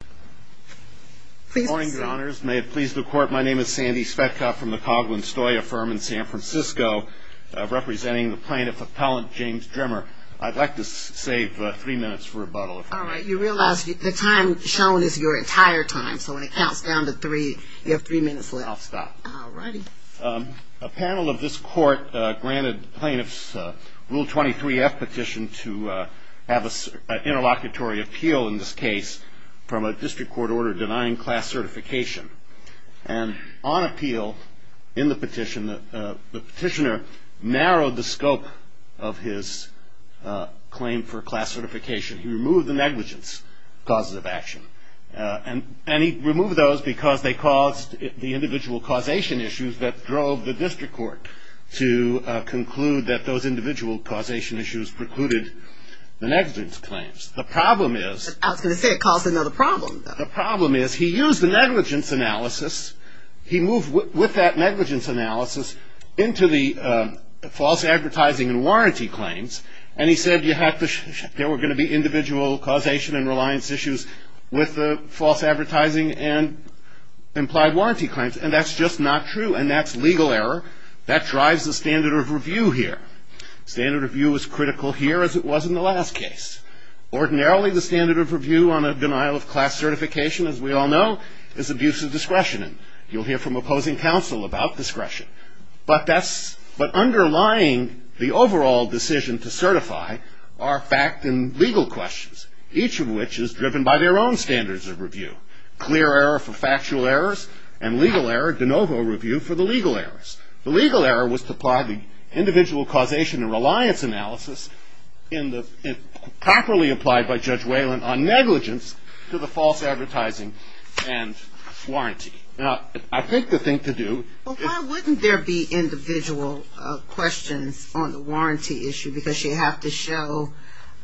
Please be seated. Good morning, Your Honors. May it please the Court, my name is Sandy Svetko from the Coghlan-Stoya firm in San Francisco, representing the plaintiff appellant, James Drimmer. I'd like to save three minutes for rebuttal, if I may. All right. You realize the time shown is your entire time, so when it counts down to three, you have three minutes left. I'll stop. All righty. A panel of this Court granted the plaintiff's Rule 23-F petition to have an interlocutory appeal in this case from a district court order denying class certification. And on appeal in the petition, the petitioner narrowed the scope of his claim for class certification. He removed the negligence causes of action. And he removed those because they caused the individual causation issues that drove the district court to conclude that those individual causation issues precluded the negligence claims. The problem is... I was going to say it caused another problem, though. The problem is he used the negligence analysis. He moved with that negligence analysis into the false advertising and warranty claims, and he said there were going to be individual causation and reliance issues with the false advertising and implied warranty claims. And that's just not true, and that's legal error. That drives the standard of review here. Standard of review is critical here, as it was in the last case. Ordinarily, the standard of review on a denial of class certification, as we all know, is abuse of discretion. And you'll hear from opposing counsel about discretion. But underlying the overall decision to certify are fact and legal questions, each of which is driven by their own standards of review. Clear error for factual errors and legal error, de novo review, for the legal errors. The legal error was to apply the individual causation and reliance analysis properly applied by Judge Wayland on negligence to the false advertising and warranty. Now, I think the thing to do... Well, why wouldn't there be individual questions on the warranty issue? Because you have to show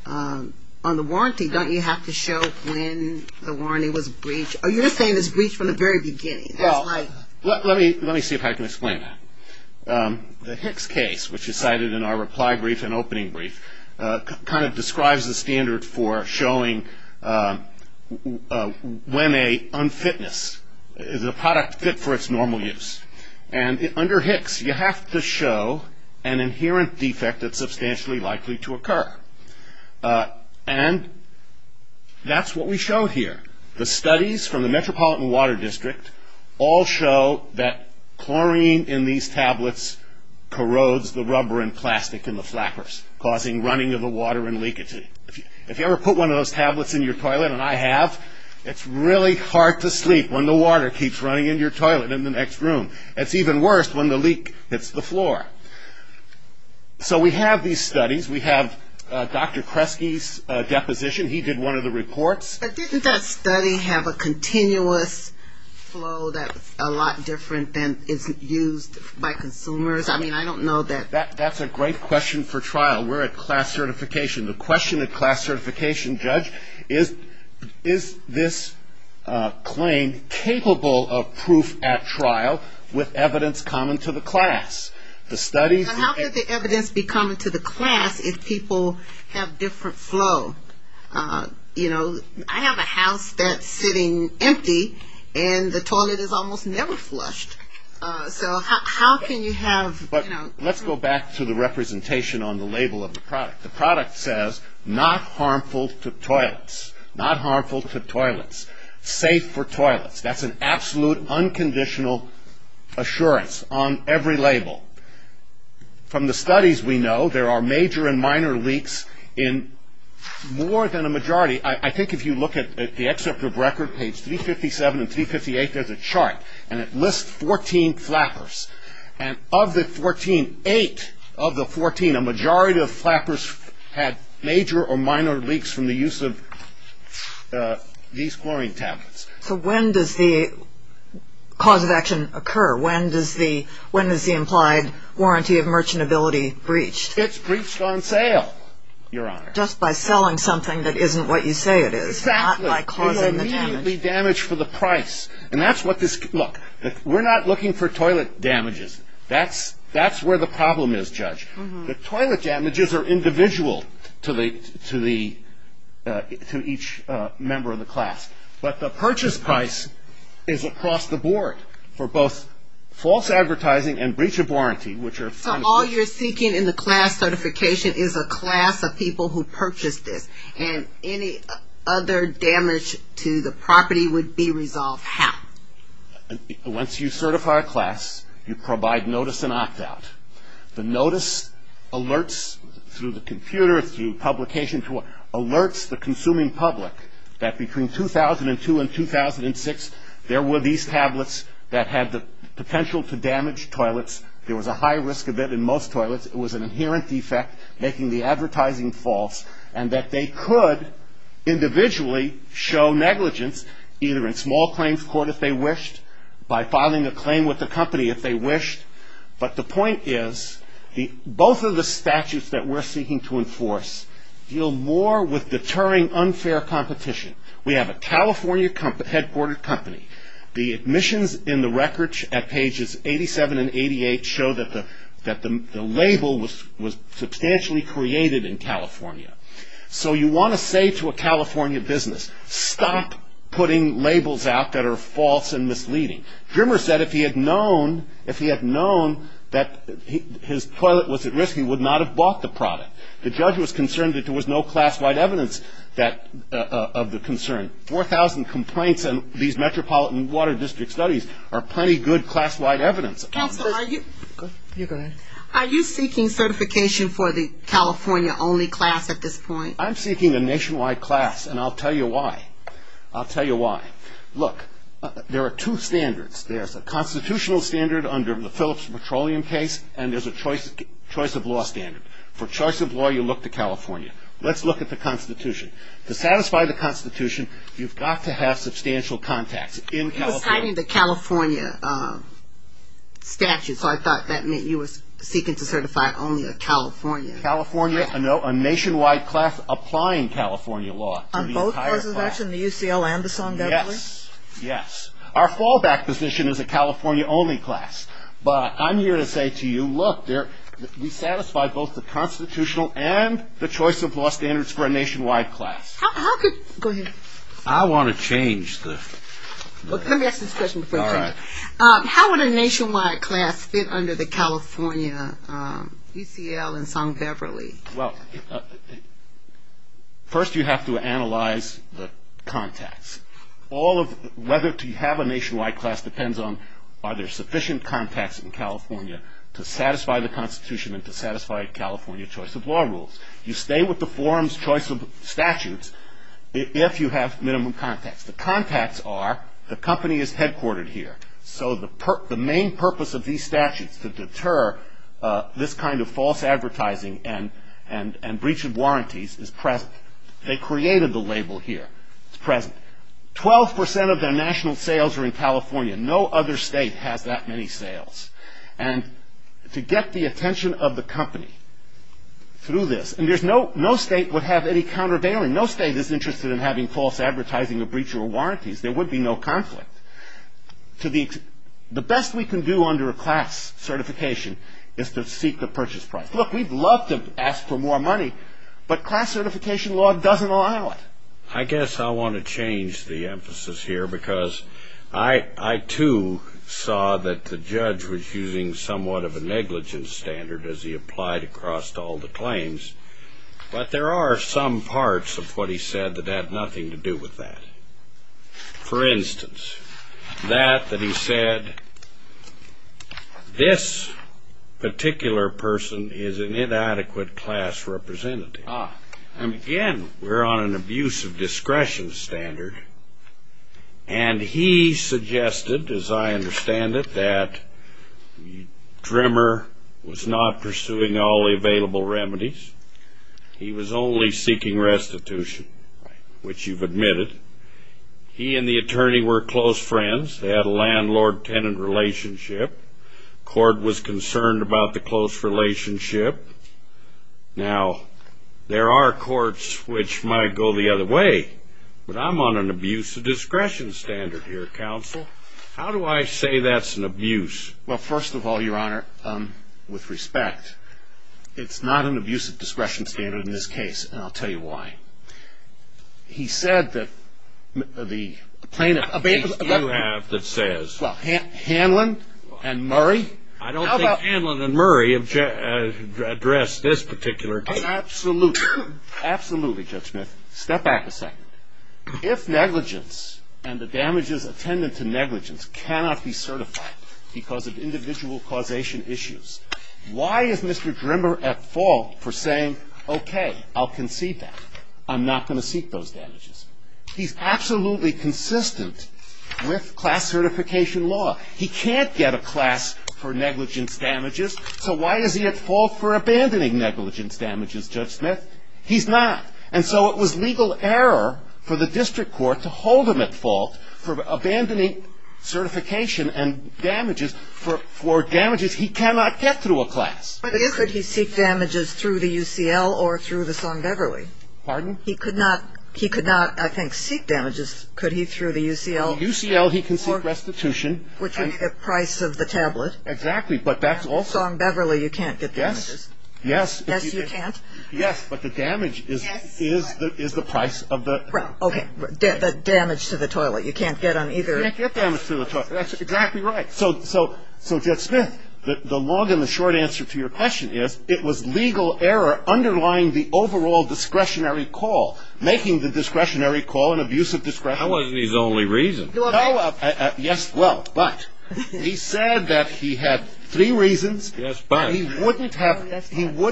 on the warranty, don't you have to show when the warranty was breached? Are you saying it was breached from the very beginning? Well, let me see if I can explain that. The Hicks case, which is cited in our reply brief and opening brief, kind of describes the standard for showing when a product fit for its normal use. And under Hicks, you have to show an inherent defect that's substantially likely to occur. And that's what we show here. The studies from the Metropolitan Water District all show that chlorine in these tablets corrodes the rubber and plastic in the flappers, causing running of the water and leakage. If you ever put one of those tablets in your toilet, and I have, it's really hard to sleep when the water keeps running in your toilet in the next room. It's even worse when the leak hits the floor. So we have these studies. We have Dr. Kresge's deposition. He did one of the reports. But didn't that study have a continuous flow that's a lot different than is used by consumers? I mean, I don't know that. That's a great question for trial. We're at class certification. The question at class certification, Judge, is, is this claim capable of proof at trial with evidence common to the class? The studies. How could the evidence be common to the class if people have different flow? You know, I have a house that's sitting empty, and the toilet is almost never flushed. So how can you have, you know. Let's go back to the representation on the label of the product. The product says, not harmful to toilets. Not harmful to toilets. Safe for toilets. That's an absolute, unconditional assurance on every label. From the studies we know, there are major and minor leaks in more than a majority. I think if you look at the excerpt of record, page 357 and 358, there's a chart. And it lists 14 flappers. And of the 14, eight of the 14, a majority of flappers had major or minor leaks from the use of these chlorine tablets. So when does the cause of action occur? When does the, when is the implied warranty of merchantability breached? It's breached on sale, Your Honor. Just by selling something that isn't what you say it is. Exactly. Not by causing the damage. Immediately damaged for the price. And that's what this, look, we're not looking for toilet damages. That's, that's where the problem is, Judge. The toilet damages are individual to the, to the, to each member of the class. But the purchase price is across the board for both false advertising and breach of warranty, which are. So all you're seeking in the class certification is a class of people who purchased this. And any other damage to the property would be resolved how? Once you certify a class, you provide notice and opt out. The notice alerts through the computer, through publication, alerts the consuming public that between 2002 and 2006, there were these tablets that had the potential to damage toilets. There was a high risk of it in most toilets. It was an inherent defect, making the advertising false. And that they could individually show negligence, either in small claims court if they wished, by filing a claim with the company if they wished. But the point is, both of the statutes that we're seeking to enforce deal more with deterring unfair competition. We have a California headquartered company. The admissions in the records at pages 87 and 88 show that the, that the label was, was substantially created in California. So you want to say to a California business, stop putting labels out that are false and misleading. Drimmer said if he had known, if he had known that his toilet was at risk, he would not have bought the product. The judge was concerned that there was no class-wide evidence that, of the concern. 4,000 complaints in these metropolitan water district studies are plenty good class-wide evidence. Counsel, are you, are you seeking certification for the California-only class at this point? I'm seeking a nationwide class, and I'll tell you why. I'll tell you why. Look, there are two standards. There's a constitutional standard under the Phillips Petroleum case, and there's a choice, choice of law standard. For choice of law, you look to California. Let's look at the Constitution. To satisfy the Constitution, you've got to have substantial contacts in California. He was citing the California statute, so I thought that meant you were seeking to certify only a California. California, no, a nationwide class applying California law to the entire class. On both presidential and the U.C.L. Anderson, definitely? Yes, yes. Our fallback position is a California-only class. But I'm here to say to you, look, there, we satisfy both the constitutional and the choice of law standards for a nationwide class. How could, go ahead. I want to change the. Let me ask this question before I change it. All right. How would a nationwide class fit under the California U.C.L. and Song-Beverly? Well, first you have to analyze the contacts. Whether to have a nationwide class depends on are there sufficient contacts in California to satisfy the Constitution and to satisfy a California choice of law rules. You stay with the forum's choice of statutes if you have minimum contacts. The contacts are the company is headquartered here, so the main purpose of these statutes to deter this kind of false advertising and breach of warranties is present. They created the label here. It's present. Twelve percent of their national sales are in California. No other state has that many sales. And to get the attention of the company through this, and there's no state would have any countervailing, no state is interested in having false advertising or breach of warranties. There would be no conflict. The best we can do under a class certification is to seek the purchase price. Look, we'd love to ask for more money, but class certification law doesn't allow it. I guess I want to change the emphasis here because I, too, saw that the judge was using somewhat of a negligence standard as he applied across all the claims, but there are some parts of what he said that have nothing to do with that. For instance, that that he said, this particular person is an inadequate class representative. Again, we're on an abuse of discretion standard, and he suggested, as I understand it, that Drimmer was not pursuing all the available remedies. He was only seeking restitution, which you've admitted. He and the attorney were close friends. They had a landlord-tenant relationship. Court was concerned about the close relationship. Now, there are courts which might go the other way, but I'm on an abuse of discretion standard here, Counsel. How do I say that's an abuse? Well, first of all, Your Honor, with respect, it's not an abuse of discretion standard in this case, and I'll tell you why. He said that the plaintiff that you have that says— Well, Hanlon and Murray? I don't think Hanlon and Murray addressed this particular case. Absolutely. Absolutely, Judge Smith. Step back a second. If negligence and the damages attendant to negligence cannot be certified because of individual causation issues, why is Mr. Drimmer at fault for saying, okay, I'll concede that. I'm not going to seek those damages. He's absolutely consistent with class certification law. He can't get a class for negligence damages, so why is he at fault for abandoning negligence damages, Judge Smith? He's not. And so it was legal error for the district court to hold him at fault for abandoning certification and damages for damages he cannot get through a class. But could he seek damages through the UCL or through the Song-Deverly? Pardon? He could not, I think, seek damages. Could he through the UCL? Through UCL, he can seek restitution. Which would be the price of the tablet. Exactly, but that's also – Song-Beverly, you can't get damages. Yes. Yes, you can't? Yes, but the damage is the price of the – Okay, damage to the toilet. You can't get on either – You can't get damage to the toilet. That's exactly right. So, Judge Smith, the long and the short answer to your question is, it was legal error underlying the overall discretionary call, making the discretionary call an abuse of discretion. That wasn't his only reason. Yes, well, but. He said that he had three reasons. Yes, but. He would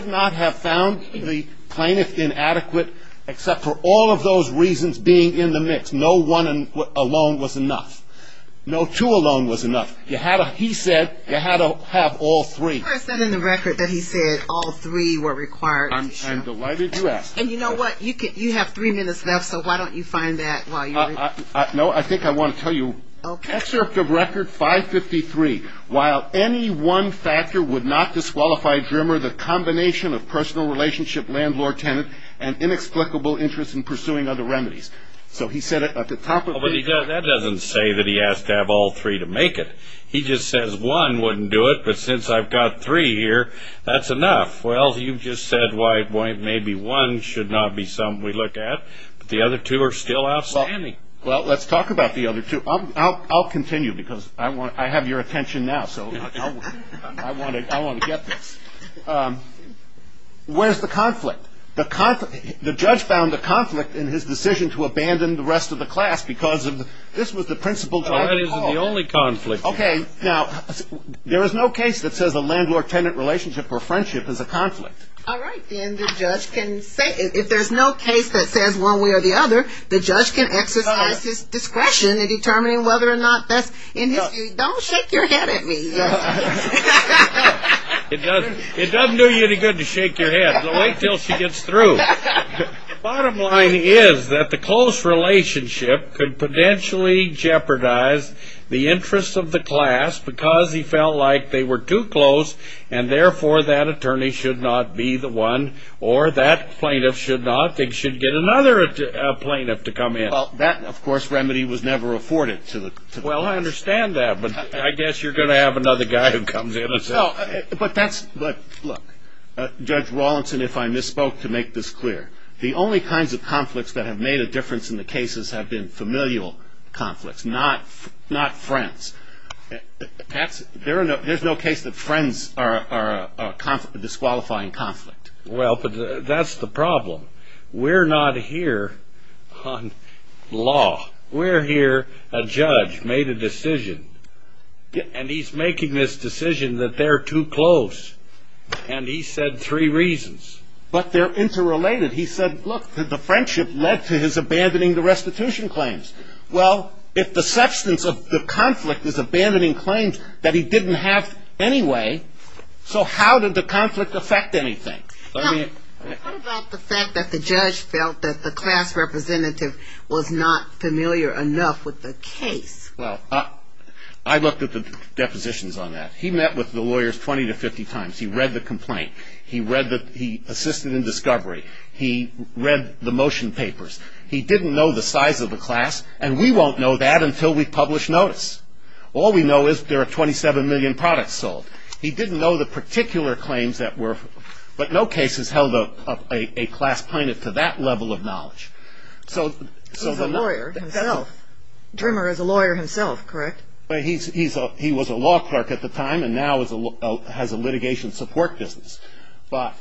not have found the plaintiff inadequate, except for all of those reasons being in the mix. No one alone was enough. No two alone was enough. He said you had to have all three. I sent him the record that he said all three were required. I'm delighted you asked. And you know what, you have three minutes left, so why don't you find that while you're – No, I think I want to tell you. Okay. Excerpt of record 553, while any one factor would not disqualify Drimmer, the combination of personal relationship, landlord-tenant, and inexplicable interest in pursuing other remedies. So he said it at the top of the – But that doesn't say that he asked to have all three to make it. He just says one wouldn't do it, but since I've got three here, that's enough. Well, you just said maybe one should not be something we look at, but the other two are still outstanding. Well, let's talk about the other two. I'll continue because I have your attention now, so I want to get this. Where's the conflict? The judge found the conflict in his decision to abandon the rest of the class because this was the principal – Well, that isn't the only conflict. Okay. Now, there is no case that says a landlord-tenant relationship or friendship is a conflict. All right. If there's no case that says one way or the other, the judge can exercise his discretion in determining whether or not that's – Don't shake your head at me. It doesn't do you any good to shake your head. Wait until she gets through. The bottom line is that the close relationship could potentially jeopardize the interests of the class because he felt like they were too close, and therefore that attorney should not be the one or that plaintiff should not. They should get another plaintiff to come in. Well, that, of course, remedy was never afforded to the – Well, I understand that, but I guess you're going to have another guy who comes in and says – No, but that's – Look, Judge Rawlinson, if I misspoke, to make this clear, the only kinds of conflicts that have made a difference in the cases have been familial conflicts, not friends. There's no case that friends are a disqualifying conflict. Well, that's the problem. We're not here on law. We're here – a judge made a decision, and he's making this decision that they're too close, and he said three reasons. But they're interrelated. He said, look, the friendship led to his abandoning the restitution claims. Well, if the substance of the conflict is abandoning claims that he didn't have anyway, so how did the conflict affect anything? Now, what about the fact that the judge felt that the class representative was not familiar enough with the case? Well, I looked at the depositions on that. He met with the lawyers 20 to 50 times. He read the complaint. He read the – he assisted in discovery. He read the motion papers. He didn't know the size of the class, and we won't know that until we publish notice. All we know is there are 27 million products sold. He didn't know the particular claims that were – but no case has held a class plaintiff to that level of knowledge. So the – He's a lawyer himself. Drimmer is a lawyer himself, correct? He was a law clerk at the time and now has a litigation support business. But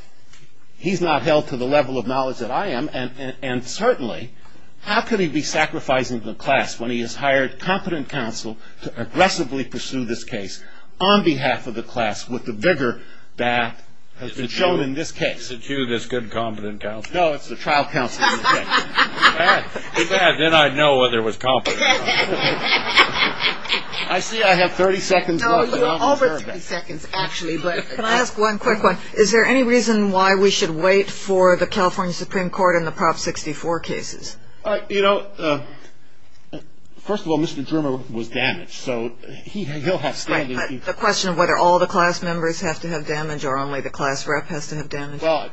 he's not held to the level of knowledge that I am, and certainly how could he be sacrificing the class when he has hired competent counsel to aggressively pursue this case on behalf of the class with the vigor that has been shown in this case? Is it you? Is it you, this good, competent counsel? No, it's the trial counsel. Then I'd know whether it was competent or not. I see I have 30 seconds left. No, you're over 30 seconds actually, but can I ask one quick one? Is there any reason why we should wait for the California Supreme Court in the Prop 64 cases? You know, first of all, Mr. Drimmer was damaged, so he'll have standing. The question of whether all the class members have to have damage or only the class rep has to have damage. Well,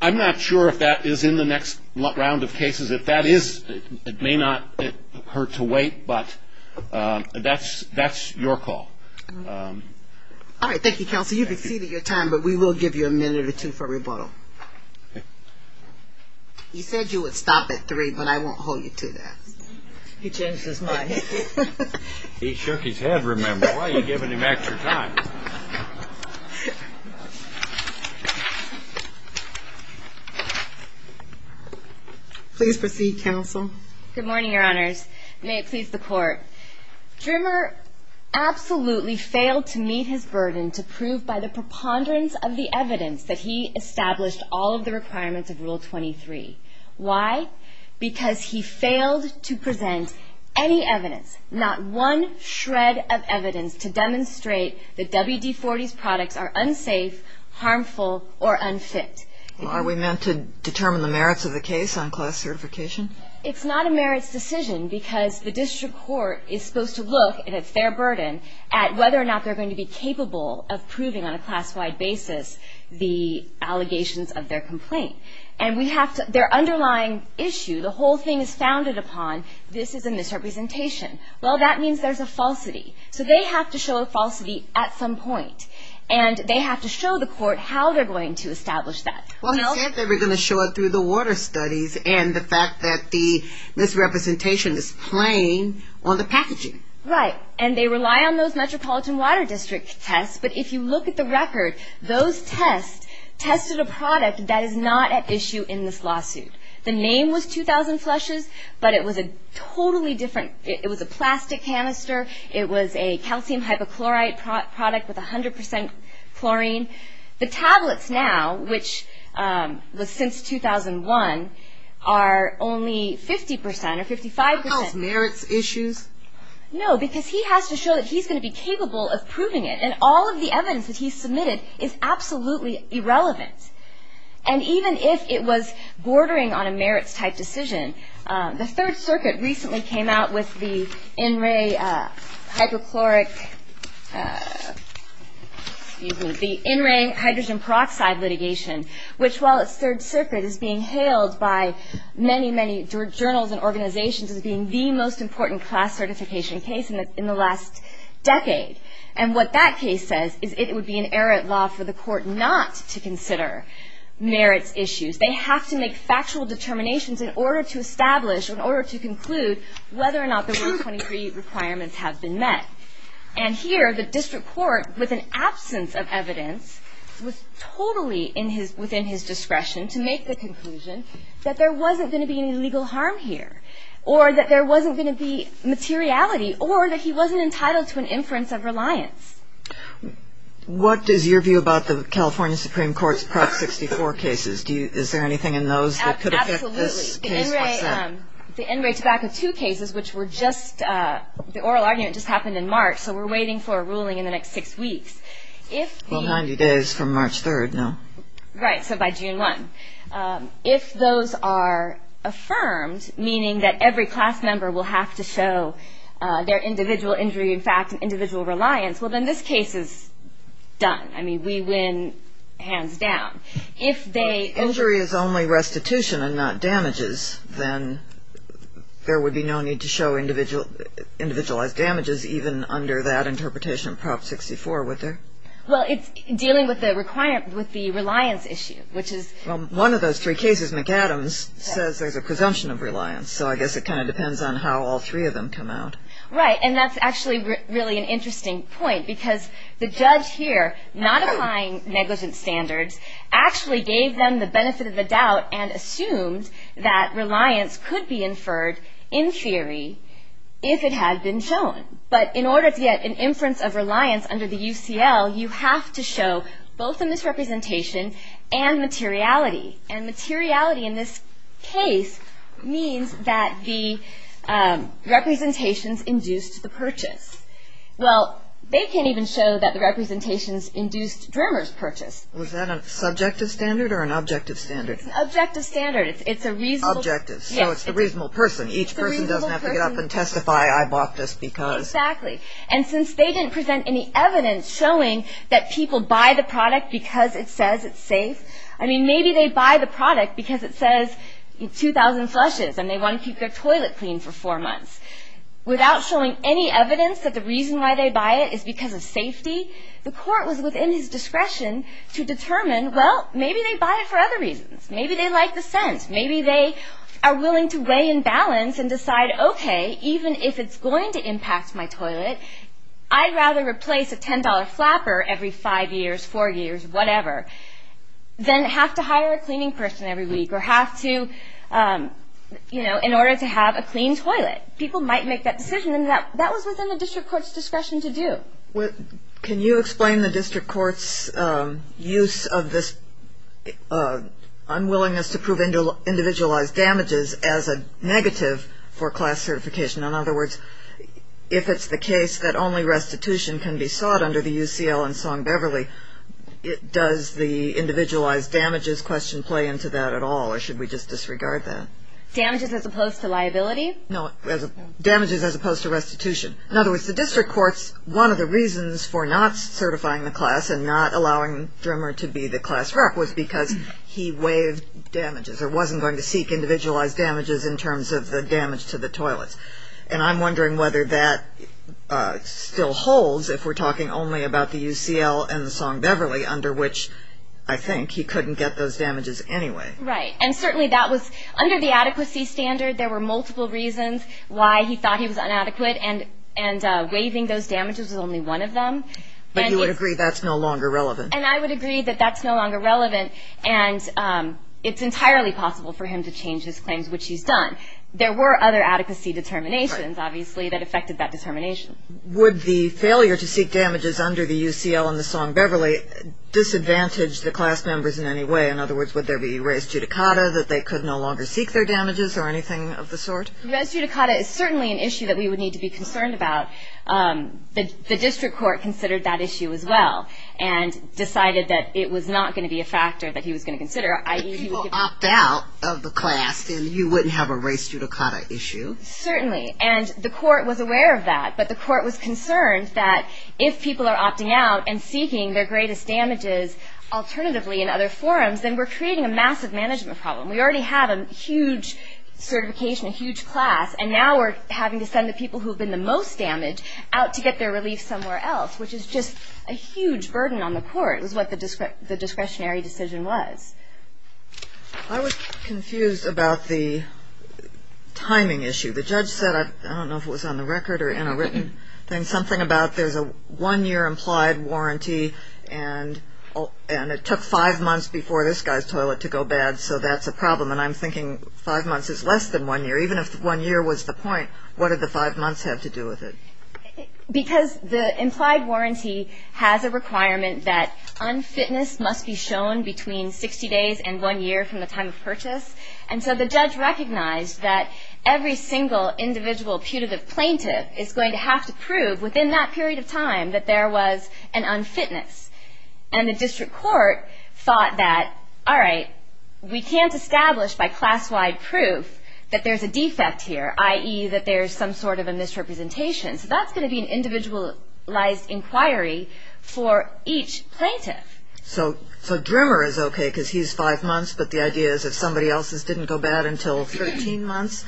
I'm not sure if that is in the next round of cases. If that is, it may not hurt to wait, but that's your call. All right, thank you, counsel. Counsel, you've exceeded your time, but we will give you a minute or two for rebuttal. He said you would stop at three, but I won't hold you to that. He changed his mind. He shook his head, remember. Why are you giving him extra time? Please proceed, counsel. Good morning, Your Honors. May it please the Court. Drimmer absolutely failed to meet his burden to prove by the preponderance of the evidence that he established all of the requirements of Rule 23. Why? Because he failed to present any evidence, not one shred of evidence, to demonstrate that WD-40's products are unsafe, harmful, or unfit. Are we meant to determine the merits of the case on class certification? It's not a merits decision because the district court is supposed to look, and it's their burden, at whether or not they're going to be capable of proving on a class-wide basis the allegations of their complaint. And their underlying issue, the whole thing is founded upon this is a misrepresentation. Well, that means there's a falsity. So they have to show a falsity at some point, and they have to show the court how they're going to establish that. Well, he said they were going to show it through the water studies and the fact that the misrepresentation is playing on the packaging. Right. And they rely on those Metropolitan Water District tests, but if you look at the record, those tests tested a product that is not at issue in this lawsuit. The name was 2,000 Flushes, but it was a totally different, it was a plastic canister, it was a calcium hypochlorite product with 100% chlorine. The tablets now, which was since 2001, are only 50% or 55%. Does that cause merits issues? No, because he has to show that he's going to be capable of proving it, and all of the evidence that he's submitted is absolutely irrelevant. And even if it was bordering on a merits-type decision, the Third Circuit recently came out with the in-ray hydrochloric, excuse me, the in-ray hydrogen peroxide litigation, which while it's Third Circuit is being hailed by many, many journals and organizations as being the most important class certification case in the last decade. And what that case says is it would be an errant law for the court not to consider merits issues. They have to make factual determinations in order to establish, in order to conclude whether or not the Rule 23 requirements have been met. And here the district court, with an absence of evidence, was totally within his discretion to make the conclusion that there wasn't going to be any legal harm here, or that there wasn't going to be materiality, or that he wasn't entitled to an inference of reliance. What is your view about the California Supreme Court's Prop 64 cases? Is there anything in those that could affect this case? Absolutely. The in-ray tobacco 2 cases, which were just, the oral argument just happened in March, so we're waiting for a ruling in the next six weeks. Well, 90 days from March 3rd, no? Right, so by June 1. If those are affirmed, meaning that every class member will have to show their individual injury, in fact, individual reliance, well, then this case is done. I mean, we win hands down. If they... If injury is only restitution and not damages, then there would be no need to show individualized damages, even under that interpretation of Prop 64, would there? Well, it's dealing with the reliance issue, which is... Well, one of those three cases, McAdams, says there's a presumption of reliance, so I guess it kind of depends on how all three of them come out. Right, and that's actually really an interesting point, because the judge here, not applying negligence standards, actually gave them the benefit of the doubt and assumed that reliance could be inferred in theory if it had been shown. But in order to get an inference of reliance under the UCL, you have to show both a misrepresentation and materiality. And materiality in this case means that the representations induced the purchase. Well, they can't even show that the representations induced Drimmer's purchase. Was that a subjective standard or an objective standard? It's an objective standard. It's a reasonable... Objective, so it's the reasonable person. Each person doesn't have to get up and testify, I bought this because... Exactly, and since they didn't present any evidence showing that people buy the product because it says it's safe, I mean, maybe they buy the product because it says 2,000 flushes and they want to keep their toilet clean for four months. Without showing any evidence that the reason why they buy it is because of safety, the court was within his discretion to determine, well, maybe they buy it for other reasons. Maybe they like the scent. Maybe they are willing to weigh and balance and decide, okay, even if it's going to impact my toilet, I'd rather replace a $10 flapper every five years, four years, whatever. Then have to hire a cleaning person every week or have to, you know, in order to have a clean toilet. People might make that decision, and that was within the district court's discretion to do. Can you explain the district court's use of this unwillingness to prove individualized damages as a negative for class certification? In other words, if it's the case that only restitution can be sought under the UCL and Song-Beverly, does the individualized damages question play into that at all or should we just disregard that? Damages as opposed to liability? No, damages as opposed to restitution. In other words, the district court's one of the reasons for not certifying the class and not allowing Drimmer to be the class rep was because he waived damages or wasn't going to seek individualized damages in terms of the damage to the toilets. And I'm wondering whether that still holds if we're talking only about the UCL and the Song-Beverly, under which I think he couldn't get those damages anyway. Right, and certainly that was under the adequacy standard. There were multiple reasons why he thought he was inadequate and waiving those damages was only one of them. But you would agree that's no longer relevant? And I would agree that that's no longer relevant, There were other adequacy determinations, obviously, that affected that determination. Would the failure to seek damages under the UCL and the Song-Beverly disadvantage the class members in any way? In other words, would there be res judicata that they could no longer seek their damages or anything of the sort? Res judicata is certainly an issue that we would need to be concerned about. The district court considered that issue as well and decided that it was not going to be a factor that he was going to consider. If people opt out of the class, then you wouldn't have a res judicata issue? Certainly, and the court was aware of that. But the court was concerned that if people are opting out and seeking their greatest damages alternatively in other forums, then we're creating a massive management problem. We already have a huge certification, a huge class, and now we're having to send the people who have been the most damaged out to get their relief somewhere else, which is just a huge burden on the court, is what the discretionary decision was. I was confused about the timing issue. The judge said, I don't know if it was on the record or in a written thing, something about there's a one-year implied warranty and it took five months before this guy's toilet to go bad, so that's a problem. And I'm thinking five months is less than one year. Even if one year was the point, what did the five months have to do with it? Because the implied warranty has a requirement that unfitness must be shown between 60 days and one year from the time of purchase, and so the judge recognized that every single individual putative plaintiff is going to have to prove within that period of time that there was an unfitness. And the district court thought that, all right, we can't establish by class-wide proof that there's a defect here, i.e. that there's some sort of a misrepresentation. So that's going to be an individualized inquiry for each plaintiff. So Drimmer is okay because he's five months, but the idea is if somebody else's didn't go bad until 13 months,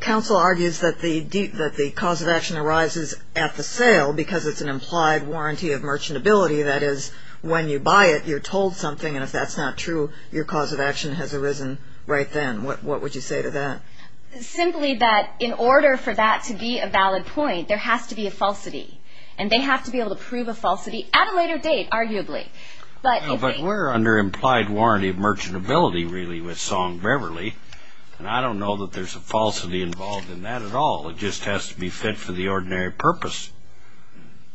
counsel argues that the cause of action arises at the sale because it's an implied warranty of merchantability. That is, when you buy it, you're told something, and if that's not true, your cause of action has arisen right then. What would you say to that? Simply that in order for that to be a valid point, there has to be a falsity, and they have to be able to prove a falsity at a later date, arguably. But we're under implied warranty of merchantability, really, with Song-Beverly, and I don't know that there's a falsity involved in that at all. It just has to be fit for the ordinary purpose.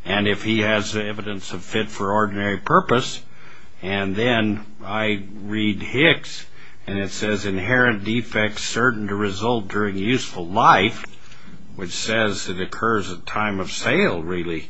And if he has evidence of fit for ordinary purpose, and then I read Hicks, and it says, Inherent defects certain to result during useful life, which says it occurs at time of sale, really,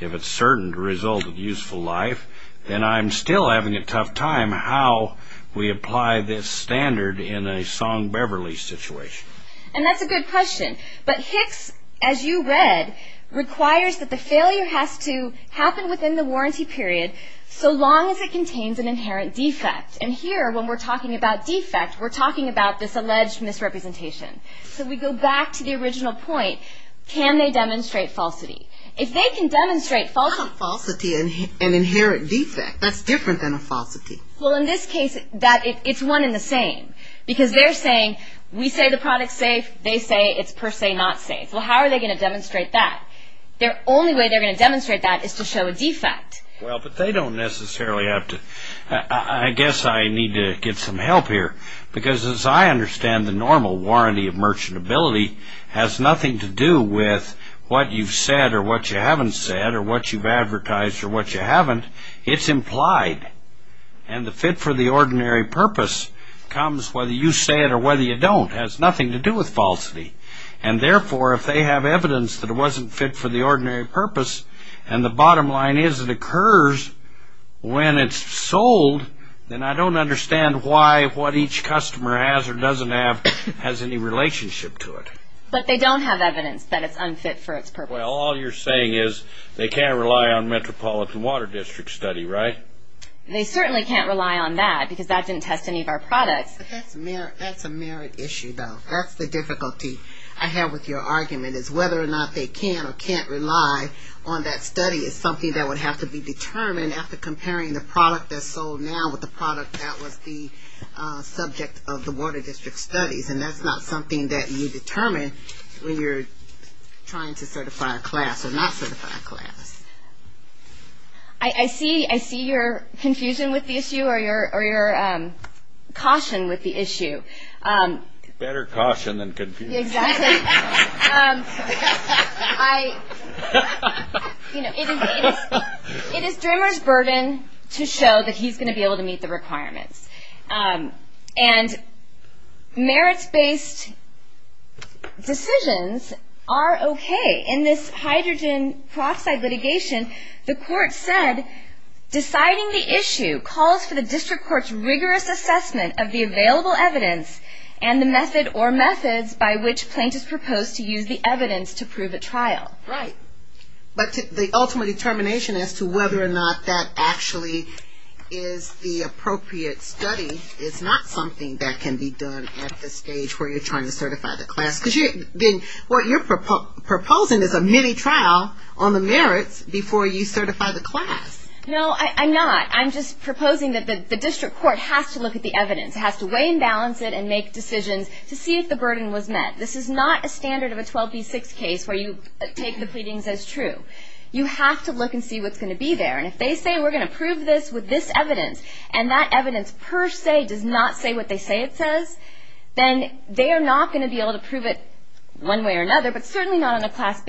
if it's certain to result in useful life, then I'm still having a tough time how we apply this standard in a Song-Beverly situation. And that's a good question. But Hicks, as you read, requires that the failure has to happen within the warranty period so long as it contains an inherent defect. And here, when we're talking about defect, we're talking about this alleged misrepresentation. So we go back to the original point, can they demonstrate falsity? If they can demonstrate falsity... Not a falsity, an inherent defect. That's different than a falsity. Well, in this case, it's one and the same, because they're saying we say the product's safe, they say it's per se not safe. Well, how are they going to demonstrate that? The only way they're going to demonstrate that is to show a defect. Well, but they don't necessarily have to. I guess I need to get some help here, because as I understand the normal warranty of merchantability has nothing to do with what you've said or what you haven't said or what you've advertised or what you haven't. It's implied. And the fit for the ordinary purpose comes whether you say it or whether you don't. It has nothing to do with falsity. And therefore, if they have evidence that it wasn't fit for the ordinary purpose, and the bottom line is it occurs when it's sold, then I don't understand why what each customer has or doesn't have has any relationship to it. But they don't have evidence that it's unfit for its purpose. Well, all you're saying is they can't rely on Metropolitan Water District study, right? They certainly can't rely on that, because that didn't test any of our products. That's a merit issue, though. That's the difficulty I have with your argument, is whether or not they can or can't rely on that study is something that would have to be determined after comparing the product that's sold now with the product that was the subject of the Water District studies. And that's not something that you determine when you're trying to certify a class or not certify a class. I see your confusion with the issue or your caution with the issue. Better caution than confusion. Exactly. It is Drimmer's burden to show that he's going to be able to meet the requirements. And merits-based decisions are okay. In this hydrogen peroxide litigation, the court said, Deciding the issue calls for the district court's rigorous assessment of the available evidence and the method or methods by which plaintiffs propose to use the evidence to prove a trial. Right. But the ultimate determination as to whether or not that actually is the appropriate study is not something that can be done at the stage where you're trying to certify the class. Because then what you're proposing is a mini trial on the merits before you certify the class. No, I'm not. I'm just proposing that the district court has to look at the evidence. It has to weigh and balance it and make decisions to see if the burden was met. This is not a standard of a 12B6 case where you take the pleadings as true. You have to look and see what's going to be there. And if they say we're going to prove this with this evidence, and that evidence per se does not say what they say it says, then they are not going to be able to prove it one way or another, but certainly not on a class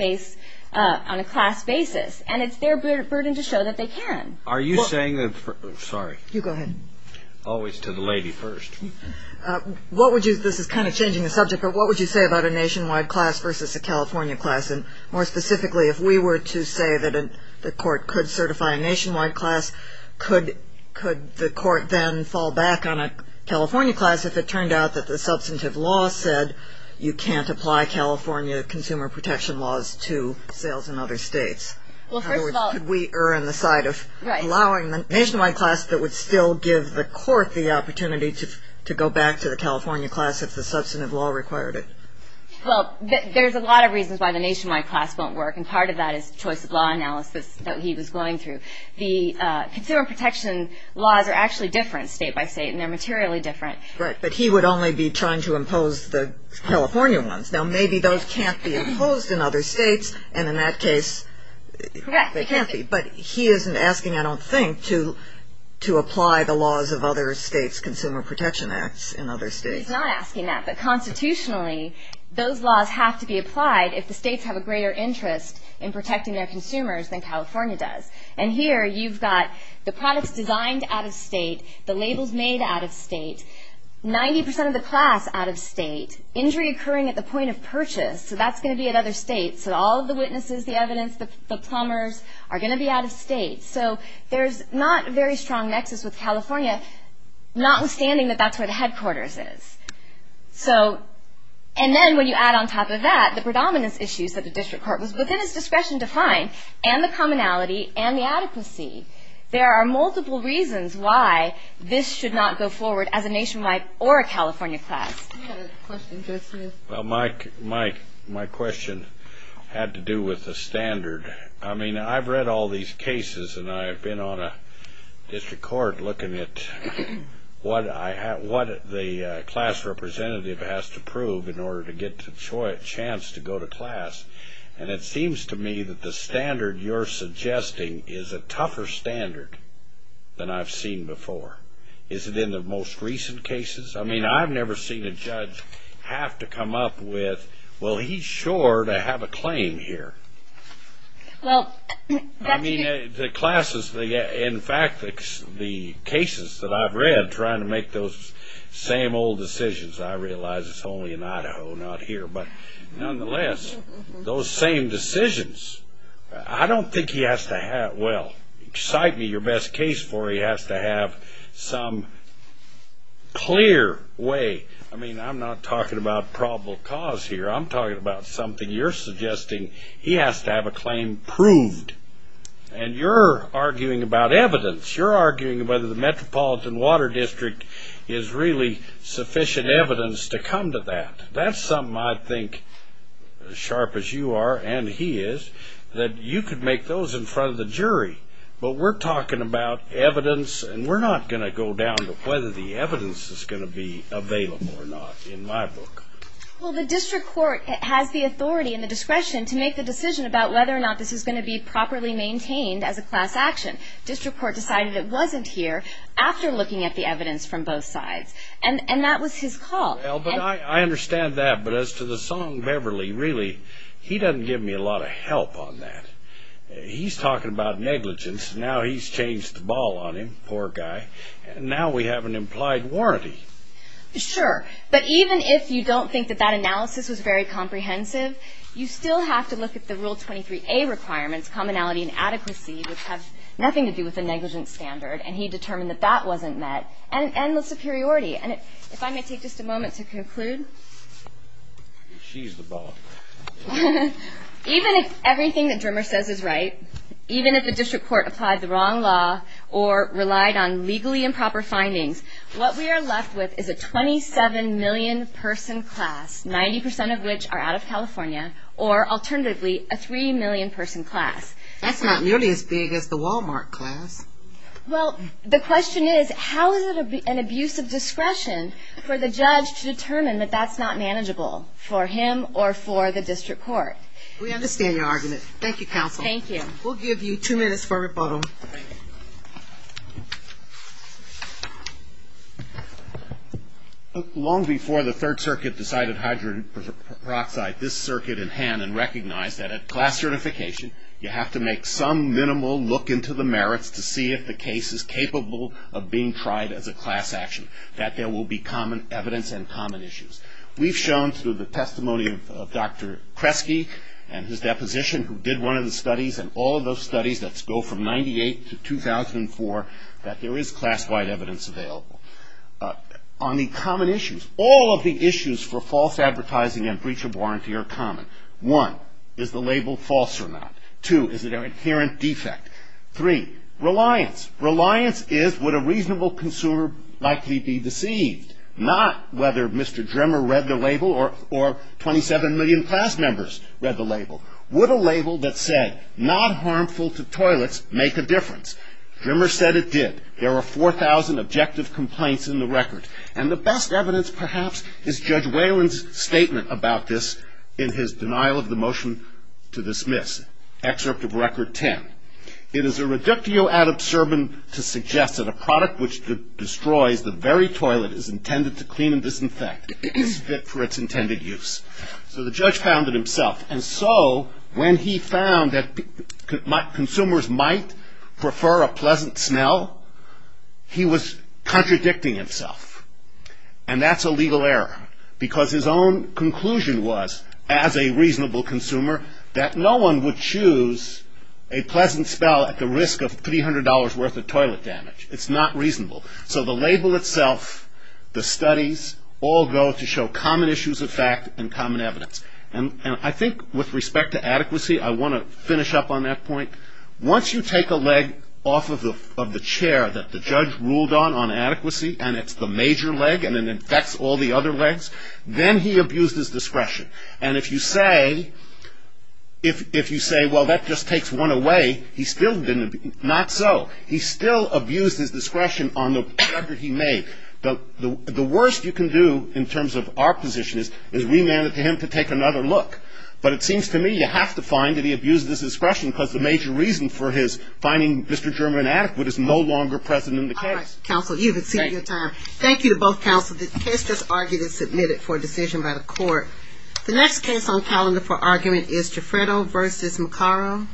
basis. And it's their burden to show that they can. Are you saying that the – sorry. You go ahead. Always to the lady first. What would you – this is kind of changing the subject, but what would you say about a nationwide class versus a California class? And more specifically, if we were to say that the court could certify a nationwide class, could the court then fall back on a California class if it turned out that the substantive law said you can't apply California consumer protection laws to sales in other states? Well, first of all – In other words, could we err on the side of allowing the nationwide class that would still give the court the opportunity to go back to the California class if the substantive law required it? Well, there's a lot of reasons why the nationwide class won't work, and part of that is choice of law analysis that he was going through. The consumer protection laws are actually different state by state, and they're materially different. Right. But he would only be trying to impose the California ones. Now, maybe those can't be imposed in other states, and in that case – Correct. They can't be. But he isn't asking, I don't think, to apply the laws of other states' consumer protection acts in other states. He's not asking that. But constitutionally, those laws have to be applied if the states have a greater interest in protecting their consumers than California does. And here you've got the products designed out of state, the labels made out of state, 90% of the class out of state, injury occurring at the point of purchase. So that's going to be at other states. So all of the witnesses, the evidence, the plumbers are going to be out of state. So there's not a very strong nexus with California, notwithstanding that that's where the headquarters is. So – and then when you add on top of that, the predominance issues that the district court was within its discretion to find, and the commonality and the adequacy, there are multiple reasons why this should not go forward as a nationwide or a California class. We had a question just here. Well, my question had to do with the standard. I mean, I've read all these cases, and I've been on a district court looking at what the class representative has to prove in order to get a chance to go to class. And it seems to me that the standard you're suggesting is a tougher standard than I've seen before. Is it in the most recent cases? I mean, I've never seen a judge have to come up with, well, he's sure to have a claim here. I mean, the classes, in fact, the cases that I've read trying to make those same old decisions, I realize it's only in Idaho, not here. But nonetheless, those same decisions, I don't think he has to have – well, cite me your best case for it. He has to have some clear way – I mean, I'm not talking about probable cause here. I'm talking about something you're suggesting. He has to have a claim proved. And you're arguing about evidence. You're arguing whether the Metropolitan Water District is really sufficient evidence to come to that. That's something I think, as sharp as you are and he is, that you could make those in front of the jury. But we're talking about evidence, and we're not going to go down to whether the evidence is going to be available or not in my book. Well, the district court has the authority and the discretion to make the decision about whether or not this is going to be properly maintained as a class action. District court decided it wasn't here after looking at the evidence from both sides. And that was his call. Well, but I understand that. But as to the song Beverly, really, he doesn't give me a lot of help on that. He's talking about negligence. Now he's changed the ball on him. Poor guy. And now we have an implied warranty. Sure. But even if you don't think that that analysis was very comprehensive, you still have to look at the Rule 23A requirements, commonality and adequacy, which have nothing to do with the negligence standard. And he determined that that wasn't met. And the superiority. And if I may take just a moment to conclude. She's the ball. Even if everything that Drimmer says is right, even if the district court applied the wrong law or relied on legally improper findings, what we are left with is a 27 million person class, 90% of which are out of California, or alternatively, a 3 million person class. That's not nearly as big as the Walmart class. Well, the question is, how is it an abuse of discretion for the judge to determine that that's not manageable for him or for the district court? We understand your argument. Thank you, counsel. Thank you. We'll give you two minutes for rebuttal. Long before the Third Circuit decided hydrogen peroxide, this circuit in hand and recognized that at class certification, you have to make some minimal look into the merits to see if the case is capable of being tried as a class action, that there will be common evidence and common issues. We've shown through the testimony of Dr. Kresge and his deposition who did one of the studies and all of those studies that go from 98 to 2004 that there is class-wide evidence available. On the common issues, all of the issues for false advertising and breach of warranty are common. One, is the label false or not? Two, is it an inherent defect? Three, reliance. Reliance is, would a reasonable consumer likely be deceived? Not whether Mr. Drimmer read the label or 27 million class members read the label. Would a label that said, not harmful to toilets, make a difference? Drimmer said it did. There are 4,000 objective complaints in the record. And the best evidence, perhaps, is Judge Whalen's statement about this in his denial of the motion to dismiss. Excerpt of record 10. It is a reductio ad absurdum to suggest that a product which destroys the very toilet is intended to clean and disinfect. It is fit for its intended use. So the judge found it himself. And so, when he found that consumers might prefer a pleasant smell, he was contradicting himself. And that's a legal error. Because his own conclusion was, as a reasonable consumer, that no one would choose a pleasant smell at the risk of $300 worth of toilet damage. It's not reasonable. So the label itself, the studies, all go to show common issues of fact and common evidence. And I think, with respect to adequacy, I want to finish up on that point. Once you take a leg off of the chair that the judge ruled on, on adequacy, and it's the major leg and it infects all the other legs, then he abused his discretion. And if you say, well, that just takes one away, he still didn't. Not so. He still abused his discretion on the record he made. The worst you can do, in terms of our position, is remand it to him to take another look. But it seems to me you have to find that he abused his discretion because the major reason for his finding Mr. German inadequate is no longer present in the case. All right. Counsel, you've exceeded your time. Thank you. Thank you to both counsel. The case just argued and submitted for decision by the court. The next case on calendar for argument is Giuffredo v. Maccaro.